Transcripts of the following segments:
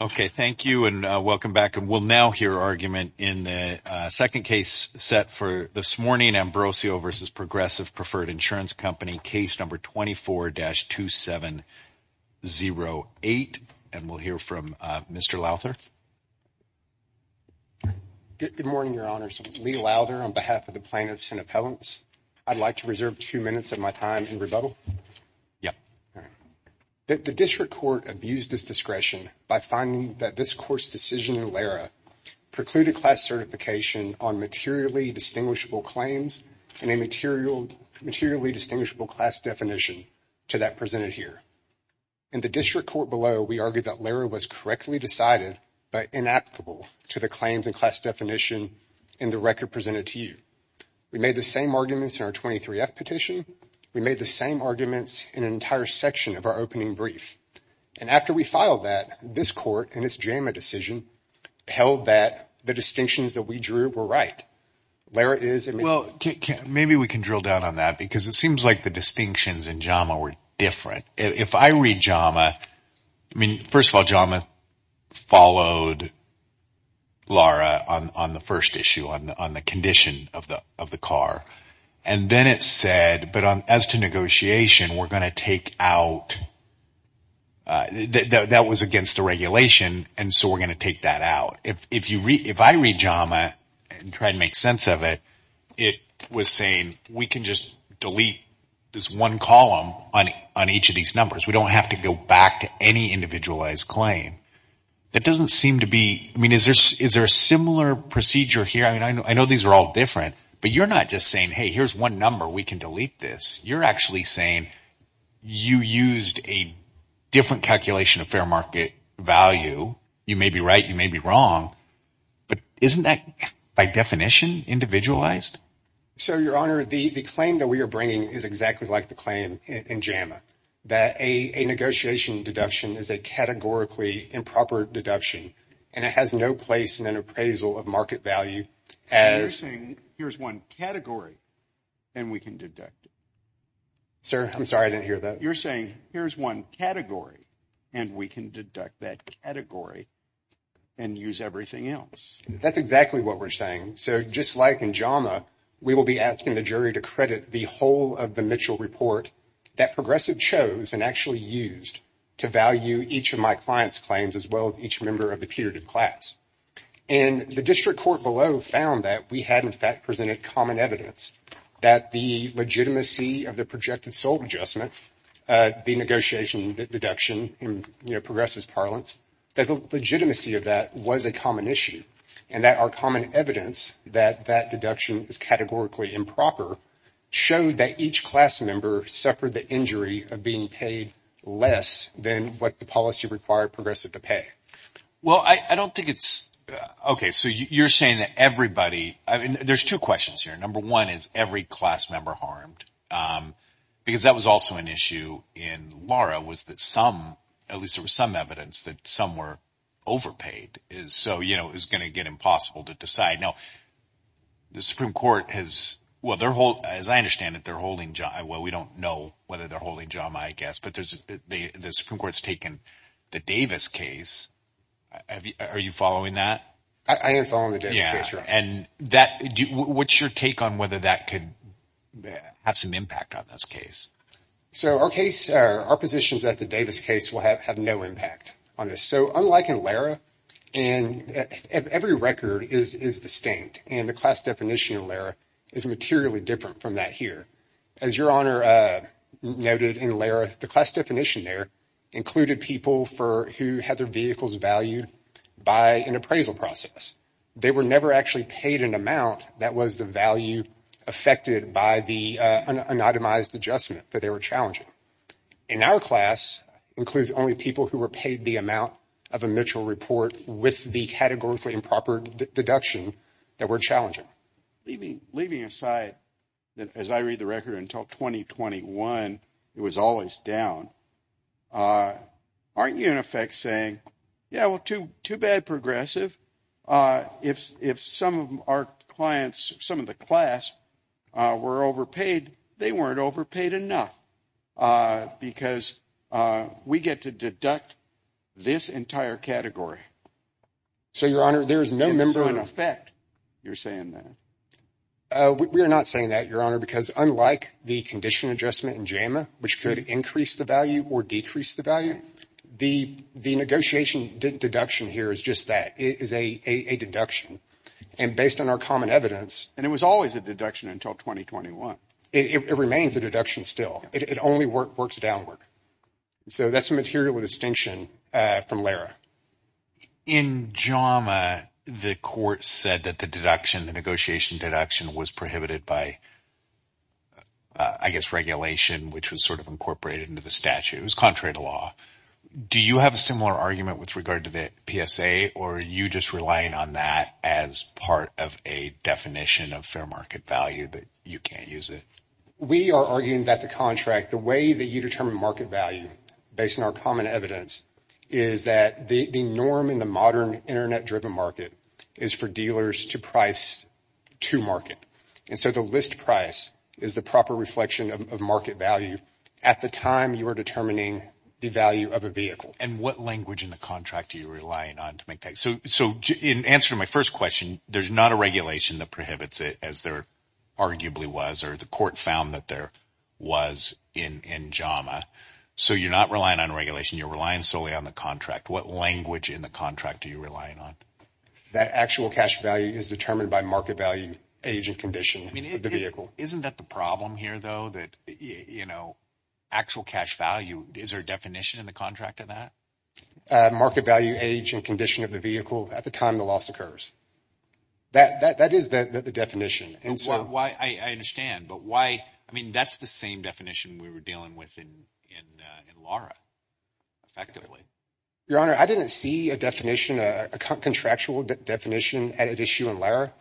Okay, thank you and welcome back. And we'll now hear argument in the second case set for this morning, Ambrosio v. Progressive Preferred Insurance Company, case number 24-2708. And we'll hear from Mr. Lowther. Good morning, Your Honors. Lee Lowther on behalf of the Department of Senate Appellants, I'd like to reserve two minutes of my time in rebuttal. Yeah. The district court abused its discretion by finding that this court's decision in LARA precluded class certification on materially distinguishable claims and a materially distinguishable class definition to that presented here. In the district court below, we argued that LARA was correctly decided but inapplicable to the claims and class definition in the case presented to you. We made the same arguments in our 23-F petition. We made the same arguments in an entire section of our opening brief. And after we filed that, this court in its JAMA decision held that the distinctions that we drew were right. LARA is – Well, maybe we can drill down on that because it seems like the distinctions in JAMA were different. If I read JAMA, I mean, first of all, JAMA followed LARA on the first issue on the condition of the car. And then it said, but as to negotiation, we're going to take out – that was against the regulation and so we're going to take that out. If I read JAMA and try to make sense of it, it was saying we can just delete this one column on each of these numbers. We don't have to go back to any individualized claim. That doesn't mean – I know these are all different but you're not just saying, hey, here's one number we can delete this. You're actually saying you used a different calculation of fair market value. You may be right. You may be wrong. But isn't that by definition individualized? So Your Honor, the claim that we are bringing is exactly like the claim in JAMA that a negotiation deduction is a categorically improper deduction and it has no place in an appraisal of market value as – You're saying here's one category and we can deduct it. Sir, I'm sorry. I didn't hear that. You're saying here's one category and we can deduct that category and use everything else. That's exactly what we're saying. So just like in JAMA, we will be asking the jury to credit the whole of the Mitchell Report that Progressive chose and actually used to value each of my client's claims as well as each member of the putative class. And the District Court below found that we had in fact presented common evidence that the legitimacy of the projected sold adjustment, the negotiation deduction in Progressive's parlance, that the legitimacy of that was a common issue and that our common evidence that that deduction is categorically improper showed that each class member suffered the injury of being paid less than what the policy required Progressive to pay. Well, I don't think it's – OK. So you're saying that everybody – there's two questions here. Number one is every class member harmed because that was also an issue in Laura was that some – at least there was some evidence that some were overpaid. So it's going to get impossible to decide. Now, the Supreme Court has – well, as I understand it, they're holding – well, we don't know whether they're holding JAMA, I guess. But the Supreme Court has taken the Davis case. Are you following that? I am following the Davis case, Your Honor. And that – what's your take on whether that could have some impact on this case? So our case – our positions at the Davis case will have no impact on this. So unlike in Laura, and every record is distinct and the class definition in Laura is materially different from that here. As Your Honor noted in Laura, the class definition there included people for – who had their vehicles valued by an appraisal process. They were never actually paid an amount that was the value affected by the anonymized adjustment that they were challenging. In our class, it includes only people who were paid the amount of a mutual report with the categorically improper deduction that were challenging. Leaving aside that, as I read the record, until 2021, it was always down. Aren't you, in effect, saying, yeah, well, too bad, Progressive. If some of our clients, some of the class, were overpaid, they weren't overpaid enough because we get to deduct this entire category. So, Your Honor, there is no member – You're saying that? We're not saying that, Your Honor, because unlike the condition adjustment in JAMA, which could increase the value or decrease the value, the negotiation deduction here is just that. It is a deduction. And based on our common evidence – And it was always a deduction until 2021. It remains a deduction still. It only works downward. So that's a material distinction from Laura. In JAMA, the court said that the deduction, the negotiation deduction, was prohibited by, I guess, regulation, which was sort of incorporated into the statute. It was contrary to law. Do you have a similar argument with regard to the PSA, or are you just relying on that as part of a definition of fair market value that you can't use it? We are arguing that the contract, the way that you determine market value, based on our common evidence, is that the norm in the modern internet-driven market is for dealers to price to market. And so the list price is the proper reflection of market value at the time you are determining the value of a vehicle. And what language in the contract are you relying on to make that? So in answer to my first question, there's not a regulation that prohibits it, as there arguably was, or the court found that there was in JAMA. So you're not relying on regulation. You're relying solely on the contract. What language in the contract are you relying on? That actual cash value is determined by market value, age, and condition of the vehicle. Isn't that the problem here, though, that actual cash value, is there a definition in the contract of that? Market value, age, and condition of the vehicle at the time the loss occurs. That is the definition. I understand, but why, I mean, that's the same definition we were dealing with in Lara, effectively. Your Honor, I didn't see a definition, a contractual definition, at issue in Lara.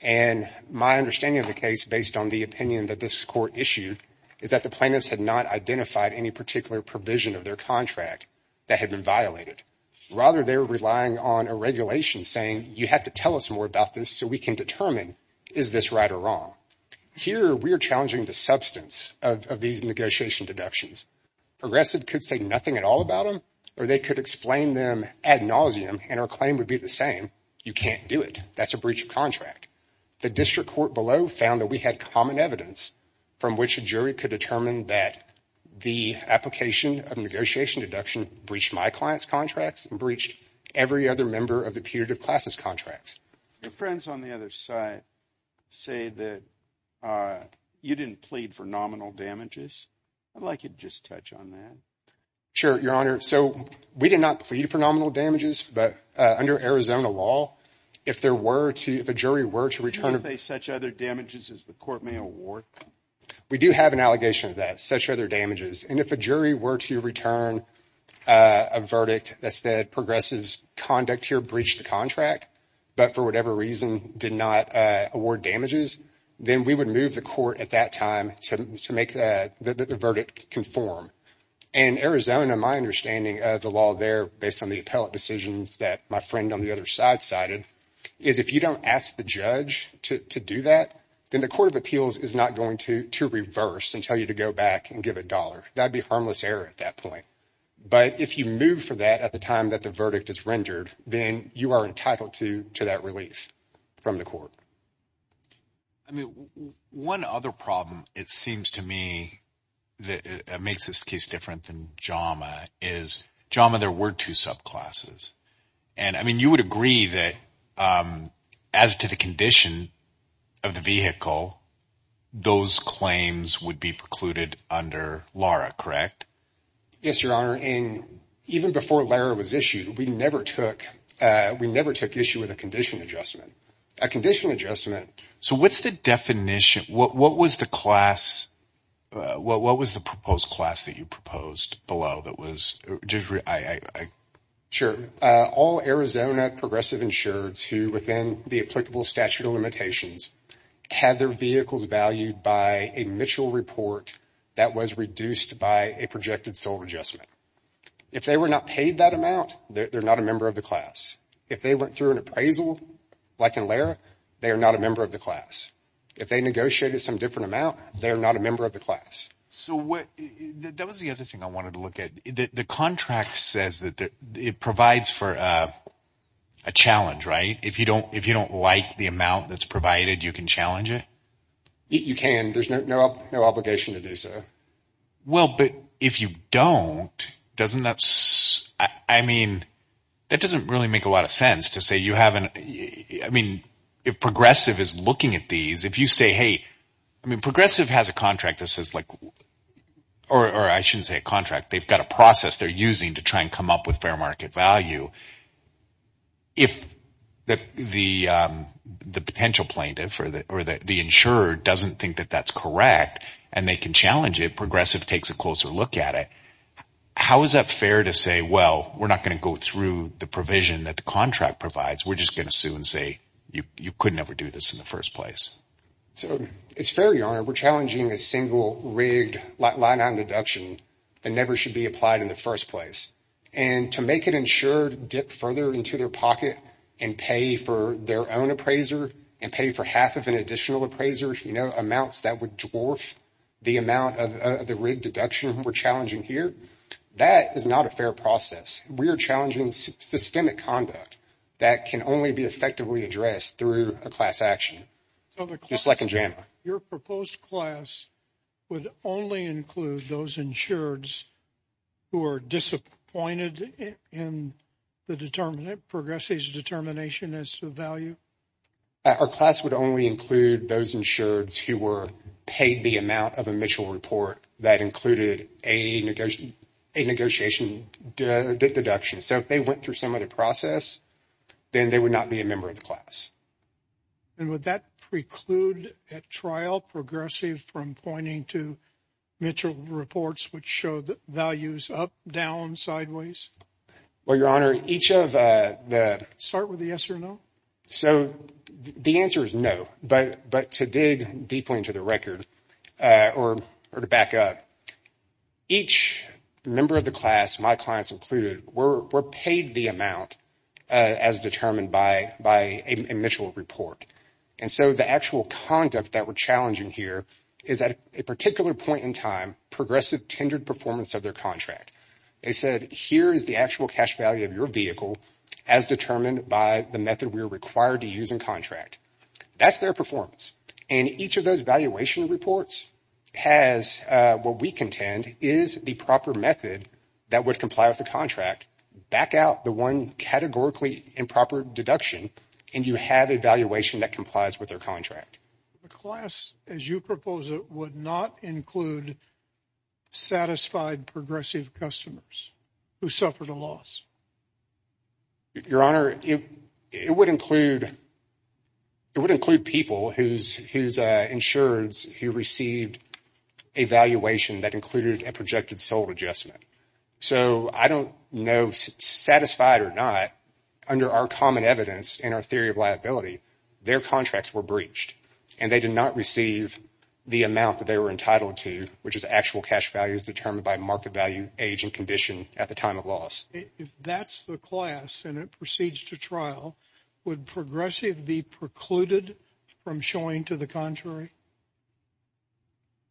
And my understanding of the case, based on the opinion that this court issued, is that the plaintiffs had not identified any particular provision of their contract that had been violated. Rather, they were relying on a regulation saying, you have to tell us more about this so we can determine, is this right or wrong? Here, we are challenging the substance of these negotiation deductions. Progressive could say nothing at all about them, or they could explain them ad nauseum, and our claim would be the same, you can't do it. That's a breach of contract. The district court below found that we had common evidence from which a jury could determine that the application of negotiation deduction breached my client's contracts and breached every other member of the putative classes' contracts. Your friends on the other side say that you didn't plead for nominal damages. I'd like you to just touch on that. Sure, Your Honor. So, we did not plead for nominal damages, but under Arizona law, if there were to, if a jury were to return- Could they face such other damages as the court may award? We do have an allegation of that, such other damages. And if a jury were to return a verdict that said progressives' conduct here breached the contract, but for whatever reason did not award damages, then we would move the court at that time to make the verdict conform. In Arizona, my understanding of the law there, based on the appellate decisions that my friend on the other side cited, is if you don't ask the judge to do that, then the court of appeals is not going to reverse and tell you to go back and give a dollar. That'd be harmless error at that point. But if you move for that at the time that the verdict is rendered, then you are entitled to that release from the court. I mean, one other problem, it seems to me, that makes this case different than JAMA is, JAMA, there were two subclasses. And I mean, you would agree that as to the condition of the vehicle, those claims would be precluded under LARA, correct? Yes, Your Honor. And even before LARA was issued, we never took issue with a condition adjustment. A condition adjustment... So what's the definition? What was the proposed class that you proposed below that was... Sure. All Arizona progressive insureds who, within the applicable statute of limitations, had their vehicles valued by a Mitchell report that was reduced by a projected sole adjustment. If they were not paid that amount, they're not a member of the class. If they went through an appraisal, like in LARA, they are not a member of the class. If they negotiated some different amount, they're not a member of the class. So that was the other thing I wanted to look at. The contract says that it provides for a challenge, right? If you don't like the amount that's provided, you can challenge it? You can. There's no obligation to do so. Well, but if you don't, doesn't that... I mean, that doesn't really make a lot of sense to say you haven't... I mean, if progressive is looking at these, if you say, hey... I mean, progressive has a contract that says like... Or I shouldn't say a contract. They've got a process they're using to try and come up with fair market value. If the potential plaintiff or the insurer doesn't think that that's correct and they can challenge it, progressive takes a closer look at it. How is that fair to say, well, we're not going to go through the provision that the contract provides. We're just going to sue and say, you could never do this in the first place. So it's fair, Your Honor. We're challenging a single rigged line on deduction that never should be applied in the first place. And to make an insured dip further into their pocket and pay for their own appraiser and pay for half of an additional appraiser, amounts that would dwarf the amount of the rigged deduction we're challenging here, that is not a fair process. We are challenging systemic conduct that can only be effectively addressed through a class action. Just like in JAMA. Your proposed class would only include those insureds who are disappointed in the determinant, progressive's determination as to value? Our class would only include those insureds who were paid the amount of a Mitchell report that included a negotiation deduction. So if they went through some of the process, then they would not be a member of the class. And would that preclude at trial progressive from pointing to Mitchell reports which show the values up, down, sideways? Well, Your Honor, each of the... Start with the yes or no. So the answer is no. But to dig deeply into the record or to back up, each member of the class, my clients included, were paid the amount as determined by a Mitchell report. And so the actual conduct that we're challenging here is at a particular point in time, progressive tendered performance of their contract. They said, here is the actual cash value of your vehicle as determined by the method we are required to use in contract. That's their performance. And each of those valuation reports has what we contend is the proper method that would comply with the contract, back out the one categorically improper deduction, and you have a valuation that complies with their contract. The class, as you propose it, would not include satisfied progressive customers who suffered a loss? Your Honor, it would include... It would include people whose insurers who received a valuation that included a projected sold adjustment. So I don't know satisfied or not, under our common evidence and our theory of liability, their contracts were breached and they did not receive the amount that they were entitled to, which is actual cash values determined by market value, age, and condition at the time of precluded from showing to the contrary?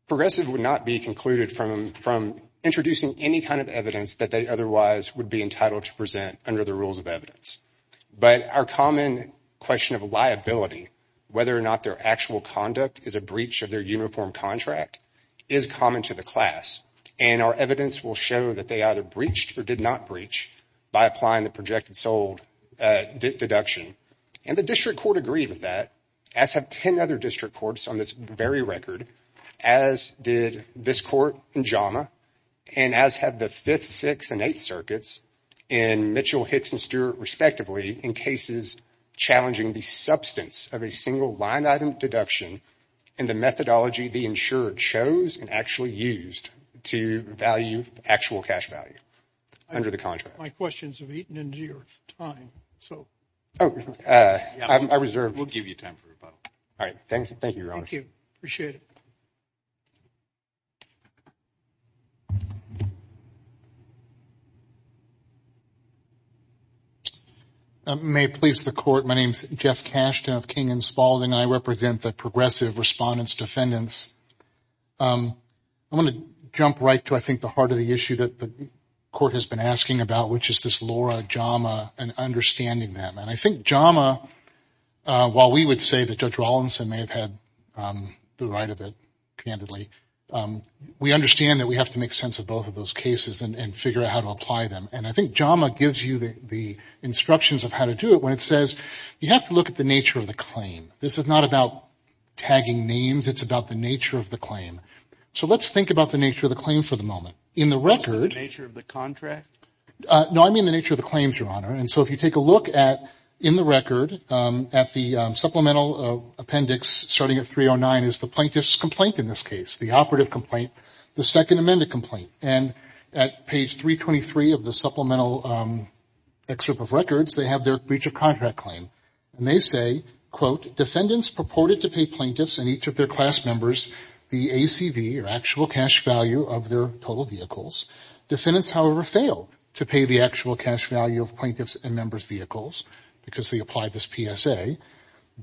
Progressive would not be precluded from introducing any kind of evidence that they otherwise would be entitled to present under the rules of evidence. But our common question of liability, whether or not their actual conduct is a breach of their uniform contract, is common to the class. And our evidence will show that they either breached or did not breach by applying the projected sold deduction. And the district court agreed with that, as have 10 other district courts on this very record, as did this court in JAMA, and as have the 5th, 6th, and 8th circuits in Mitchell, Hicks, and Stewart, respectively, in cases challenging the substance of a single line item deduction and the methodology the insurer chose and actually used to value actual cash value under the contract. My questions have eaten into your time, so. Oh, I reserve. We'll give you time for rebuttal. All right. Thank you. Thank you. Appreciate it. May it please the court. My name's Jeff Cashton of King & Spaulding. I represent the progressive respondents defendants. I want to jump right to, I think, the heart of the issue that the court has been asking about, which is this Laura, JAMA, and understanding them. And I think JAMA, while we would say that Judge Rawlinson may have had the right of it, candidly, we understand that we have to make sense of both of those cases and figure out how to apply them. And I think JAMA gives you the instructions of how to do it when it says you have to look at the nature of the claim. This is not about tagging names. It's about the nature of the claim. So let's think about the contract. No, I mean the nature of the claims, Your Honor. And so if you take a look at, in the record, at the supplemental appendix starting at 309 is the plaintiff's complaint in this case, the operative complaint, the second amended complaint. And at page 323 of the supplemental excerpt of records, they have their breach of contract claim. And they say, quote, defendants purported to pay plaintiffs and each of their class members the ACV or actual cash value of their total vehicles. Defendants, however, failed to pay the actual cash value of plaintiffs and members' vehicles because they applied this PSA.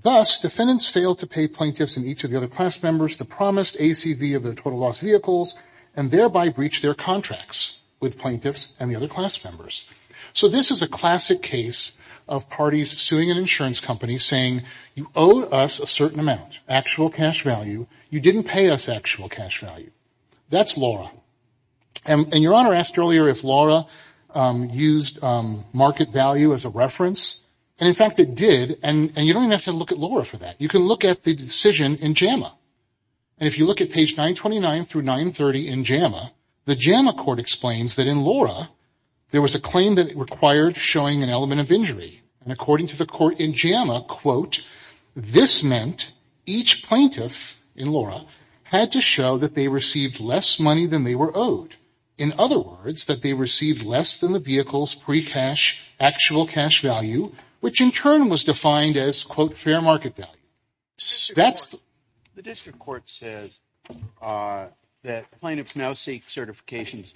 Thus, defendants failed to pay plaintiffs and each of the other class members the promised ACV of their total loss vehicles and thereby breached their contracts with plaintiffs and the other class members. So this is a classic case of parties suing an insurance company saying you owe us a certain amount, actual cash value. You didn't pay us actual cash value. That's LORA. And Your Honor asked earlier if LORA used market value as a reference. And in fact, it did. And you don't even have to look at LORA for that. You can look at the decision in JAMA. And if you look at page 929 through 930 in JAMA, the JAMA court explains that in LORA, there was a claim that it required showing an element of injury. And according to the court in JAMA, quote, this meant each plaintiff in LORA had to show that they received less money than they were owed. In other words, that they received less than the vehicle's pre-cash, actual cash value, which in turn was defined as, quote, fair market value. The district court says that plaintiffs now seek certifications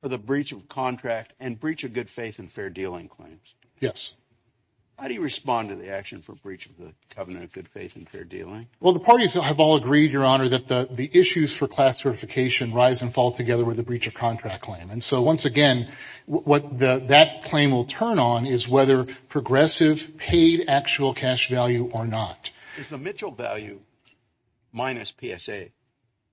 for the breach of contract and breach of good faith and fair dealing claims. Yes. How do you respond to the action for breach of the covenant of good faith and fair dealing? Well, the parties have all agreed, Your Honor, that the issues for class certification rise and fall together with the breach of contract claim. And so once again, what that claim will turn on is whether progressive paid actual cash value or not. Is the Mitchell value minus PSA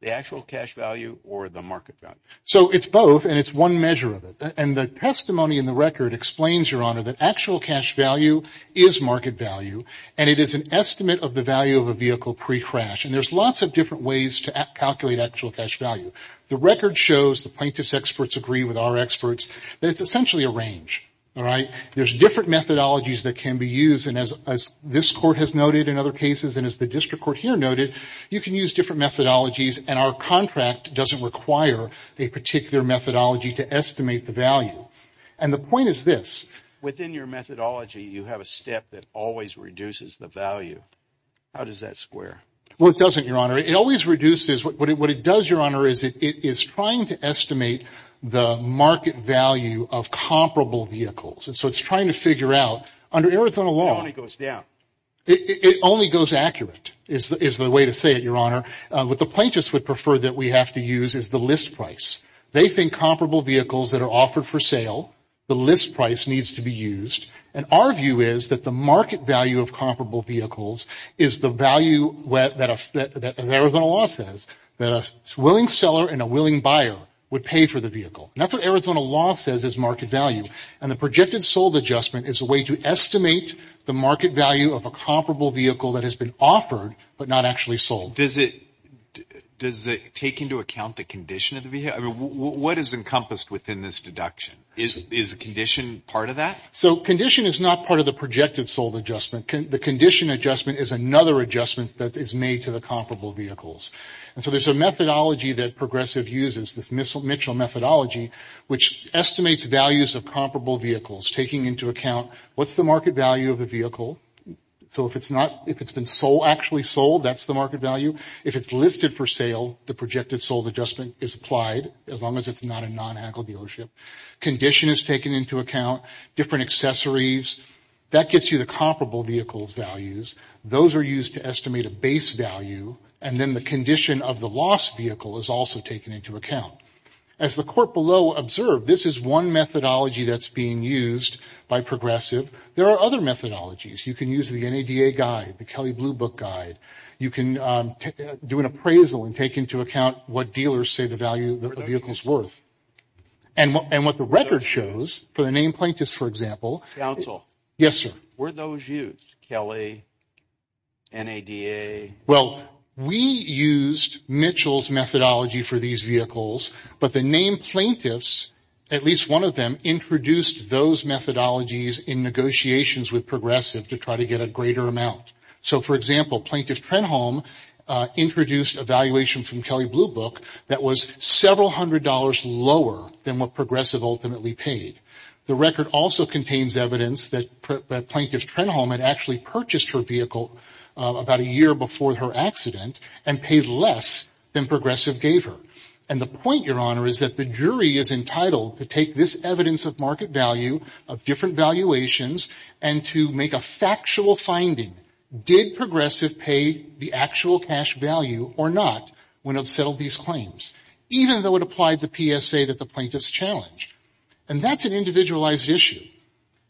the actual cash value or the market value? So it's both and it's one measure of it. And the testimony in the record explains, Your Honor, that actual cash value is market value and it is an estimate of the value of a vehicle pre-crash. And there's lots of different ways to calculate actual cash value. The record shows, the plaintiffs experts agree with our experts, that it's essentially a range, all right? There's different methodologies that can be used. And as this court has noted in other cases and as the district court here noted, you can use different methodologies and our contract doesn't require a particular methodology to estimate the value. And the point is this. Within your methodology, you have a step that always reduces the value. How does that square? Well, it doesn't, Your Honor. It always reduces. What it does, Your Honor, is it is trying to estimate the market value of comparable vehicles. And so it's trying to figure out under Arizona law. It only goes down. It only goes up. It's not accurate is the way to say it, Your Honor. What the plaintiffs would prefer that we have to use is the list price. They think comparable vehicles that are offered for sale, the list price needs to be used. And our view is that the market value of comparable vehicles is the value, as Arizona law says, that a willing seller and a willing buyer would pay for the vehicle. And that's what Arizona law says is market value. And the projected sold adjustment is a way to estimate the market value of a comparable vehicle that has been offered but not actually sold. Does it take into account the condition of the vehicle? What is encompassed within this deduction? Is the condition part of that? So condition is not part of the projected sold adjustment. The condition adjustment is another adjustment that is made to the comparable vehicles. And so there's a methodology that Progressive uses, this Mitchell methodology, which estimates values of comparable vehicles, taking into account what's the market value of the vehicle. So if it's not, if it's been sold, actually sold, that's the market value. If it's listed for sale, the projected sold adjustment is applied as long as it's not a non-Hackle dealership. Condition is taken into account, different accessories. That gets you the comparable vehicle's values. Those are used to estimate a base value. And then the condition of the lost vehicle is also taken into account. As the court below observed, this is one methodology that's being used by Progressive. There are other methodologies. You can use the NADA guide, the Kelly Blue Book guide. You can do an appraisal and take into account what dealers say the value of the vehicle is worth. And what the record shows, for the named plaintiffs, for example. Counsel. Yes, sir. Were those used? Kelly, NADA? Well, we used Mitchell's methodology for these vehicles. But the named plaintiffs, at least one of them, introduced those methodologies in negotiations with Progressive to try to get a greater amount. So for example, Plaintiff Trenholm introduced a valuation from Kelly Blue Book that was several hundred dollars lower than what Progressive ultimately paid. The record also contains evidence that Plaintiff Trenholm had actually purchased her vehicle about a year before her accident and paid less than Progressive gave her. And the point, Your Honor, is that the jury is entitled to take this evidence of market value, of different valuations, and to make a factual finding. Did Progressive pay the actual cash value or not when it settled these claims, even though it applied the PSA that the plaintiffs challenged? And that's an individualized issue.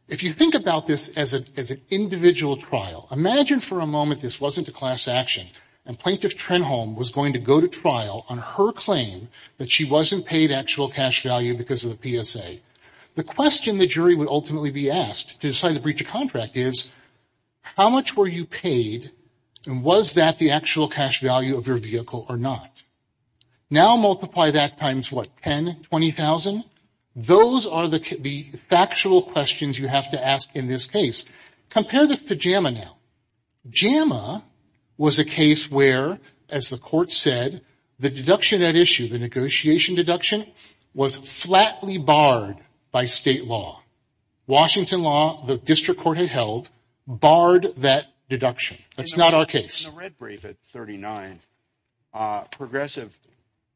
If you think about this as an individual trial, imagine for a moment this wasn't a class action and Plaintiff Trenholm was going to go to trial on her claim that she wasn't paid actual cash value because of the PSA. The question the jury would ultimately be asked to decide to breach a contract is, how much were you paid and was that the actual cash value of your vehicle or not? Now multiply that times what, 10, 20,000? Those are the factual questions you have to ask in this case. Compare this to JAMA now. JAMA was a case where, as the court said, the deduction at issue, the negotiation deduction, was flatly barred by state law. Washington law, the district court had held, barred that deduction. That's not our case. In the red brief at 39, Progressive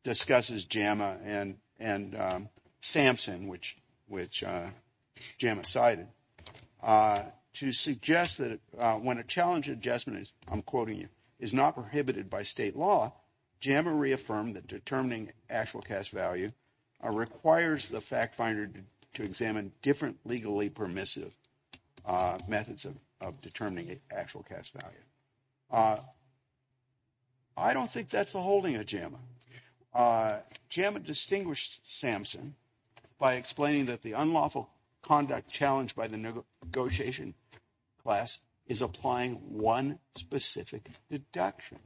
discusses JAMA and Sampson, which JAMA cited, to suggest that when a challenge adjustment, I'm quoting you, is not prohibited by state law, JAMA reaffirmed that determining actual cash value requires the fact finder to examine different legally permissive methods of determining actual cash value. I don't think that's the holding of JAMA. JAMA distinguished Sampson by explaining that the unlawful conduct challenged by the negotiation class is applying one specific deduction.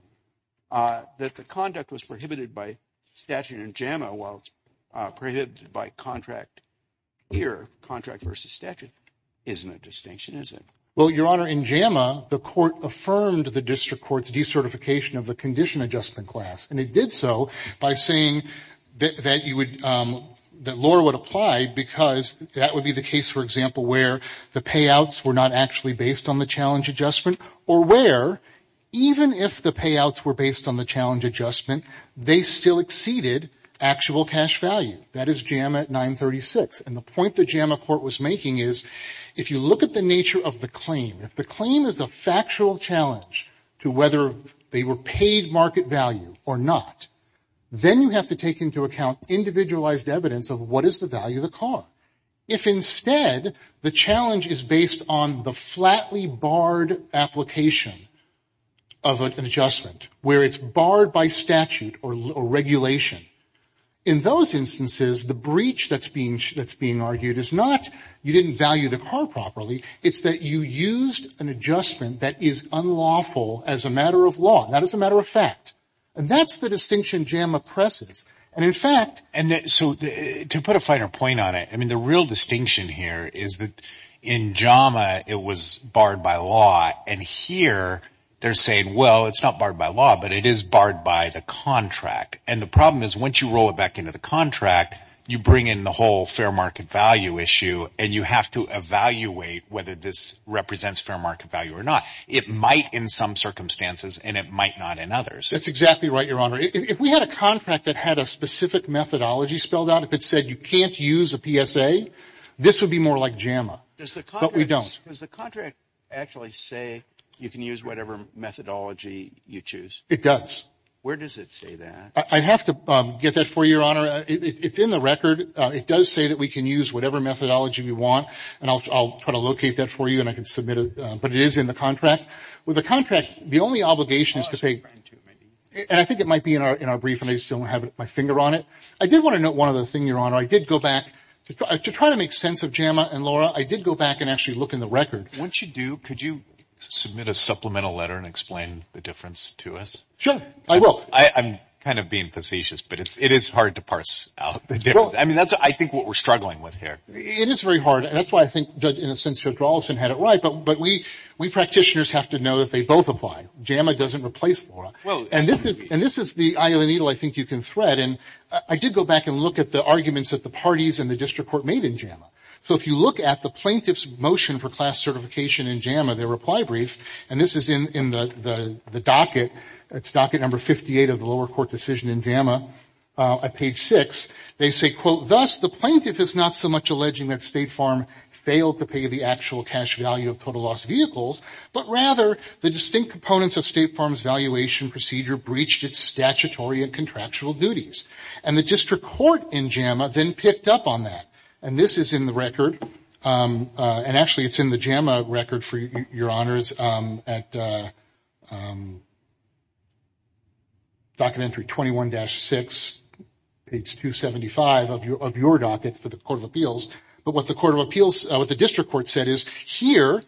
That the conduct was prohibited by statute in JAMA while it's prohibited by contract here, contract versus statute, isn't a distinction, is it? Well, Your Honor, in JAMA, the court affirmed the district court's decertification of the condition adjustment class. And it did so by saying that you would, that law would apply because that would be the case, for example, where the payouts were not actually based on the challenge adjustment or where, even if the payouts were based on the challenge adjustment, they still exceeded actual cash value. That is JAMA at 936. And the point that JAMA court was making is, if you look at the nature of the claim, if the claim is a factual challenge to whether they were paid market value or not, then you have to take into account individualized evidence of what is the value of the car. If instead, the challenge is based on the flatly barred application of an adjustment where it's barred by statute or regulation, in those instances, the breach that's being argued is not you didn't value the car properly. It's that you used an adjustment that is unlawful as a matter of law. That is a matter of fact. And that's the distinction JAMA presses. And in fact, and so to put a finer point on it, I mean, the real distinction here is that in JAMA, it was barred by law. And here they're saying, well, it's not barred by law, but it is barred by the contract. And the problem is once you roll it back into the contract, you bring in the whole fair market value issue and you have to evaluate whether this represents fair market value or not. It might in some circumstances and it might not in others. That's exactly right, your honor. If we had a contract that had a specific methodology spelled out, if it said you can't use a PSA, this would be more like JAMA. But we don't. Does the contract actually say you can use whatever methodology you choose? It does. Where does it say that? I'd have to get that for you, your honor. It's in the record. It does say that we can use whatever methodology we want and I'll try to locate that for you and I can submit it. But it is in the contract. With the contract, the only obligation is to say, and I think it might be in our brief and I just don't have my finger on it. I did want to note one other thing, your honor. I did go back to try to make sense of JAMA and Laura. I did go back and actually look in the record. Once you do, could you submit a supplemental letter and explain the difference to us? Sure, I will. I'm kind of being facetious, but it is hard to parse out the difference. I mean, that's I think what we're struggling with here. It is very hard. And that's why I think Judge, in a sense, Judge Rawlinson had it right. But we practitioners have to know that they both apply. JAMA doesn't replace Laura. And this is the eye of the needle I think you can thread. And I did go back and look at the arguments that the parties and the district court made in JAMA. So if you look at the plaintiff's motion for class certification in JAMA, their reply brief, and this is in the docket. It's docket number 58 of the lower court decision in JAMA at page six. They say, quote, thus the plaintiff is not so much alleging that State Farm failed to pay the actual cash value of total loss vehicles, but rather the distinct components of State Farm's valuation procedure breached its statutory and contractual duties. And the district court in JAMA then picked up on that. And this is in the record. And actually, it's in the JAMA record, for your honors, at docket entry 21-6, page 275 of your docket for the court of appeals. But what the court of appeals, what the district court said is, here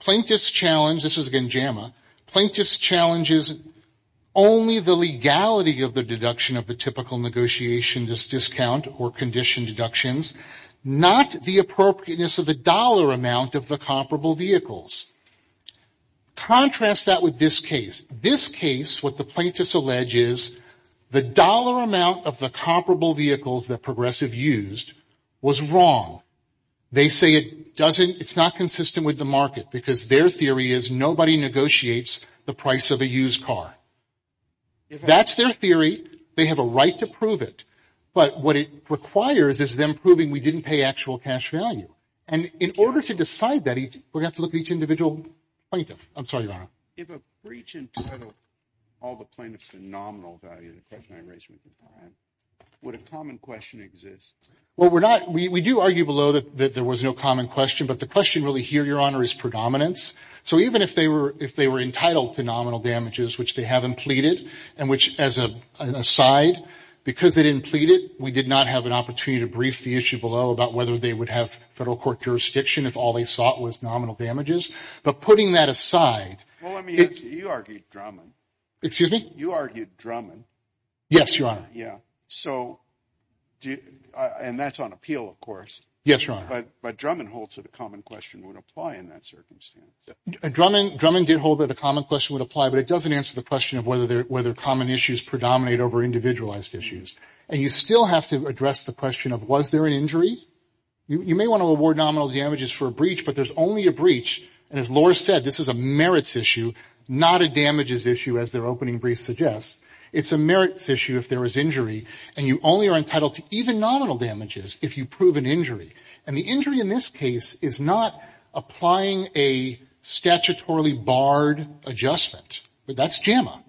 plaintiff's challenge, this is again JAMA, plaintiff's challenge is only the legality of the deduction of the typical negotiation, this discount or condition deductions, not the appropriateness of the dollar amount of the comparable vehicles. Contrast that with this case. This case, what the plaintiff's allege is, the dollar amount of the comparable vehicles that Progressive used was wrong. They say it doesn't, it's not consistent with the market because their theory is nobody negotiates the price of a used car. That's their theory. They have a right to prove it. But what it requires is them proving we didn't pay actual cash value. And in order to decide that, we're going to have to look at each individual plaintiff. I'm sorry, your honor. If a breach entitled all the plaintiffs to nominal value, the question I raised with you, would a common question exist? Well, we're not, we do argue below that there was no common question. But the question really here, your honor, is predominance. So even if they were, if they were entitled to nominal damages, which they haven't pleaded, and which as a side, because they didn't plead it, we did not have an opportunity to brief the issue below about whether they would have federal court jurisdiction if all they sought was nominal damages. But putting that aside. Well, let me ask you, you argued Drummond. Excuse me? You argued Drummond. Yes, your honor. Yeah. So, and that's on appeal, of course. Yes, your honor. But Drummond holds that a common question would apply in that circumstance. Drummond did hold that a common question would apply, but it doesn't answer the question of whether common issues predominate over individualized issues. And you still have to address the question of, was there an injury? You may want to award nominal damages for a breach, but there's only a breach. And as Laura said, this is a merits issue, not a damages issue, as their opening brief suggests. It's a merits issue if there is injury. And you only are entitled to even nominal damages if you prove an injury. And the injury in this case is not applying a statutorily barred adjustment. That's JAMA.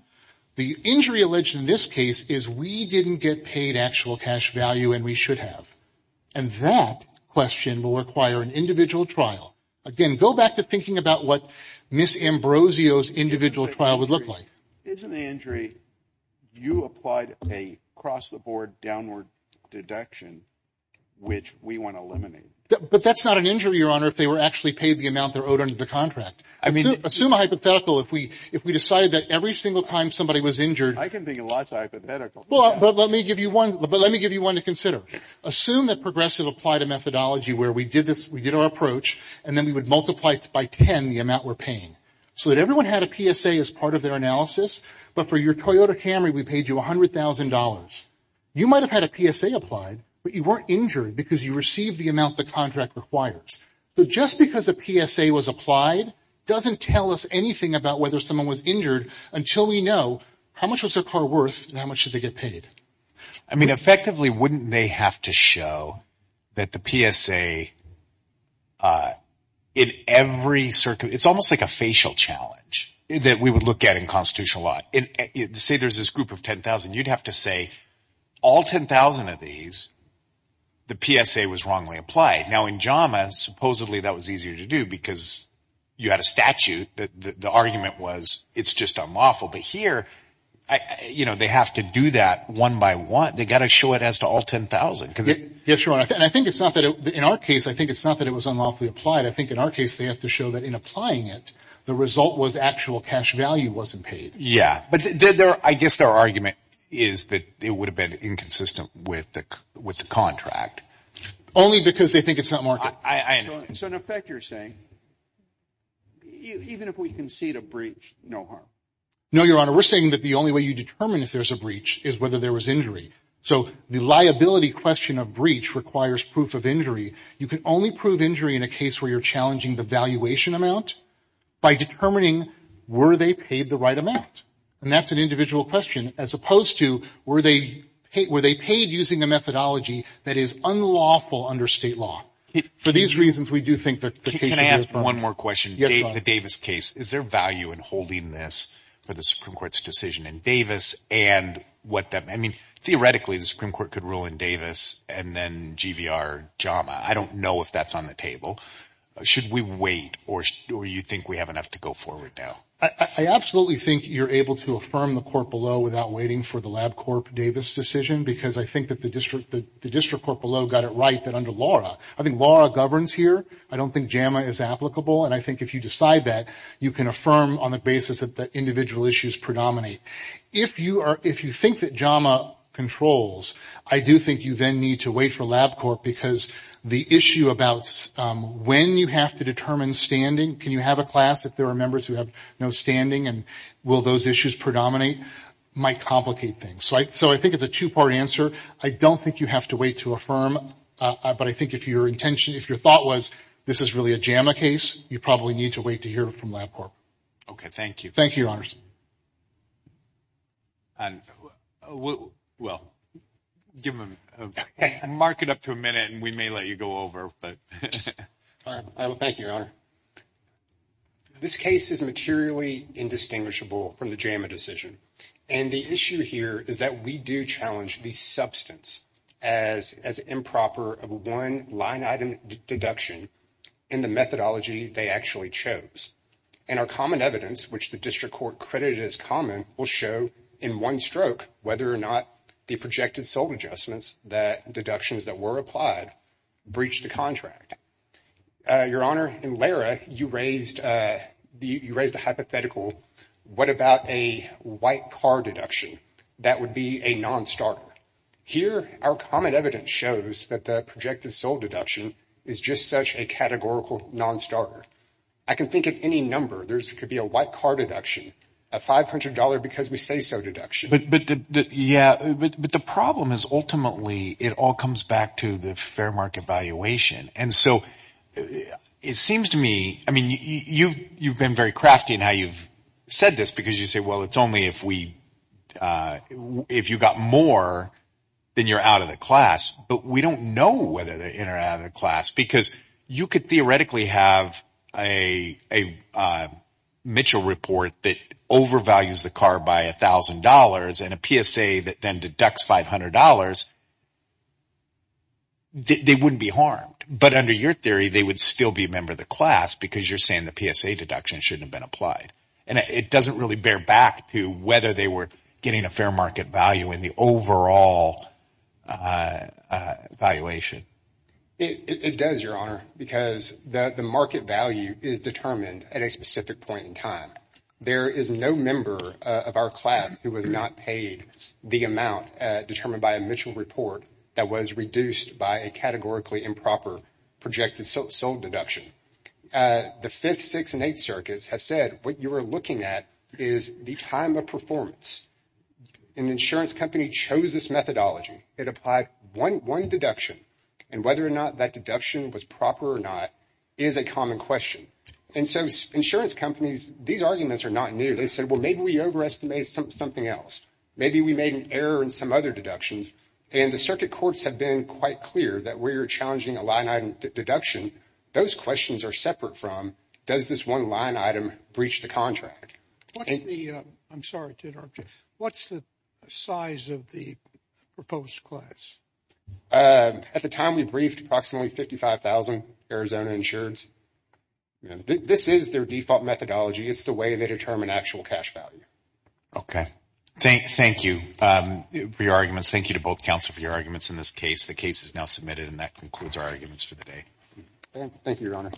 The injury alleged in this case is we didn't get paid actual cash value, and we should have. And that question will require an individual trial. Again, go back to thinking about what Ms. Ambrosio's individual trial would look like. It's an injury. You applied a cross the board downward deduction, which we want to eliminate. But that's not an injury, your honor, if they were actually paid the amount they're owed under the contract. I mean, assume a hypothetical if we decided that every single time somebody was injured. I can think of lots of hypotheticals. But let me give you one to consider. Assume that Progressive applied a methodology where we did our approach, and then we would multiply it by 10, the amount we're paying, so that everyone had a PSA as part of their analysis. But for your Toyota Camry, we paid you $100,000. You might have had a PSA applied, but you weren't injured because you received the amount the contract requires. So just because a PSA was applied doesn't tell us anything about whether someone was injured until we know how much was their car worth and how much did they get paid. I mean, effectively, wouldn't they have to show that the PSA in every circuit, it's almost like a facial challenge that we would look at in constitutional law. Say there's this group of 10,000, you'd have to say, all 10,000 of these, the PSA was wrongly applied. Now in JAMA, supposedly, that was easier to do because you had a statute. The argument was, it's just unlawful. But here, they have to do that one by one. They've got to show it as to all 10,000. Yes, Your Honor. And I think it's not that, in our case, I think it's not that it was unlawfully applied. I think in our case, they have to show that in applying it, the result was actual cash value wasn't paid. Yeah. But I guess their argument is that it would have been inconsistent with the contract. Only because they think it's not market. I know. So in effect, you're saying, even if we concede a breach, no harm? No, Your Honor. We're saying that the only way you determine if there's a breach is whether there was injury. So the liability question of breach requires proof of injury. You can only prove injury in a case where you're challenging the valuation amount by determining, were they paid the right amount? And that's an individual question, as opposed to, were they paid using a methodology that is unlawful under state law? For these reasons, we do think that- Can I ask one more question? Yes, Your Honor. The Davis case, is there value in holding this for the Supreme Court's decision in Davis? Theoretically, the Supreme Court could rule in Davis and then GVR JAMA. I don't know if that's on the table. Should we wait, or do you think we have enough to go forward now? I absolutely think you're able to affirm the court below without waiting for the LabCorp Davis decision, because I think that the district court below got it right that under Laura, I think Laura governs here. I don't think JAMA is applicable. And I think if you decide that, you can affirm on the basis that the individual issues predominate. If you think that JAMA controls, I do think you then need to wait for LabCorp, because the issue about when you have to determine standing, can you have a class if there are members who have no standing, and will those issues predominate, might complicate things. So I think it's a two-part answer. I don't think you have to wait to affirm, but I think if your intention, if your thought was, this is really a JAMA case, you probably need to wait to hear from LabCorp. Okay. Thank you. Thank you, Your Honors. Well, give them, mark it up to a minute, and we may let you go over, but. All right. Well, thank you, Your Honor. This case is materially indistinguishable from the JAMA decision. And the issue here is that we do challenge the substance as improper of one line item deduction in the methodology they actually chose. And our common evidence, which the district court credited as common, will show in one stroke whether or not the projected sold adjustments, the deductions that were applied, breached the contract. Your Honor, in Lara, you raised a hypothetical. What about a white car deduction? That would be a non-starter. Here, our common evidence shows that the projected sold deduction is just such a categorical non-starter. I can think of any number. There could be a white car deduction, a $500 because we say so deduction. Yeah. But the problem is ultimately, it all comes back to the fair market valuation. And so it seems to me, I mean, you've been very crafty in how you've said this because you say, well, it's only if you got more, then you're out of the class. But we don't know whether they're in or out of the class because you could theoretically have a Mitchell report that overvalues the car by $1,000 and a PSA that then deducts $500. They wouldn't be harmed. But under your theory, they would still be a class because you're saying the PSA deduction shouldn't have been applied. And it doesn't really bear back to whether they were getting a fair market value in the overall valuation. It does, Your Honor, because the market value is determined at a specific point in time. There is no member of our class who was not paid the amount determined by a Mitchell report that was reduced by a categorically improper projected sold deduction. The fifth, sixth, and eighth circuits have said what you are looking at is the time of performance. An insurance company chose this methodology. It applied one deduction. And whether or not that deduction was proper or not is a common question. And so insurance companies, these arguments are not new. They said, well, maybe we overestimated something else. Maybe we made an error in some other deductions. And the circuit courts have been quite clear that we're challenging a line item deduction. Those questions are separate from does this one line item breach the contract? I'm sorry to interrupt you. What's the size of the proposed class? At the time we briefed approximately 55,000 Arizona insureds. This is their default methodology. It's the way they determine actual cash value. Okay. Thank you for your arguments. Thank you to both counsel for your arguments in this case. The case is now submitted and that concludes our arguments for the day. Thank you, Your Honor.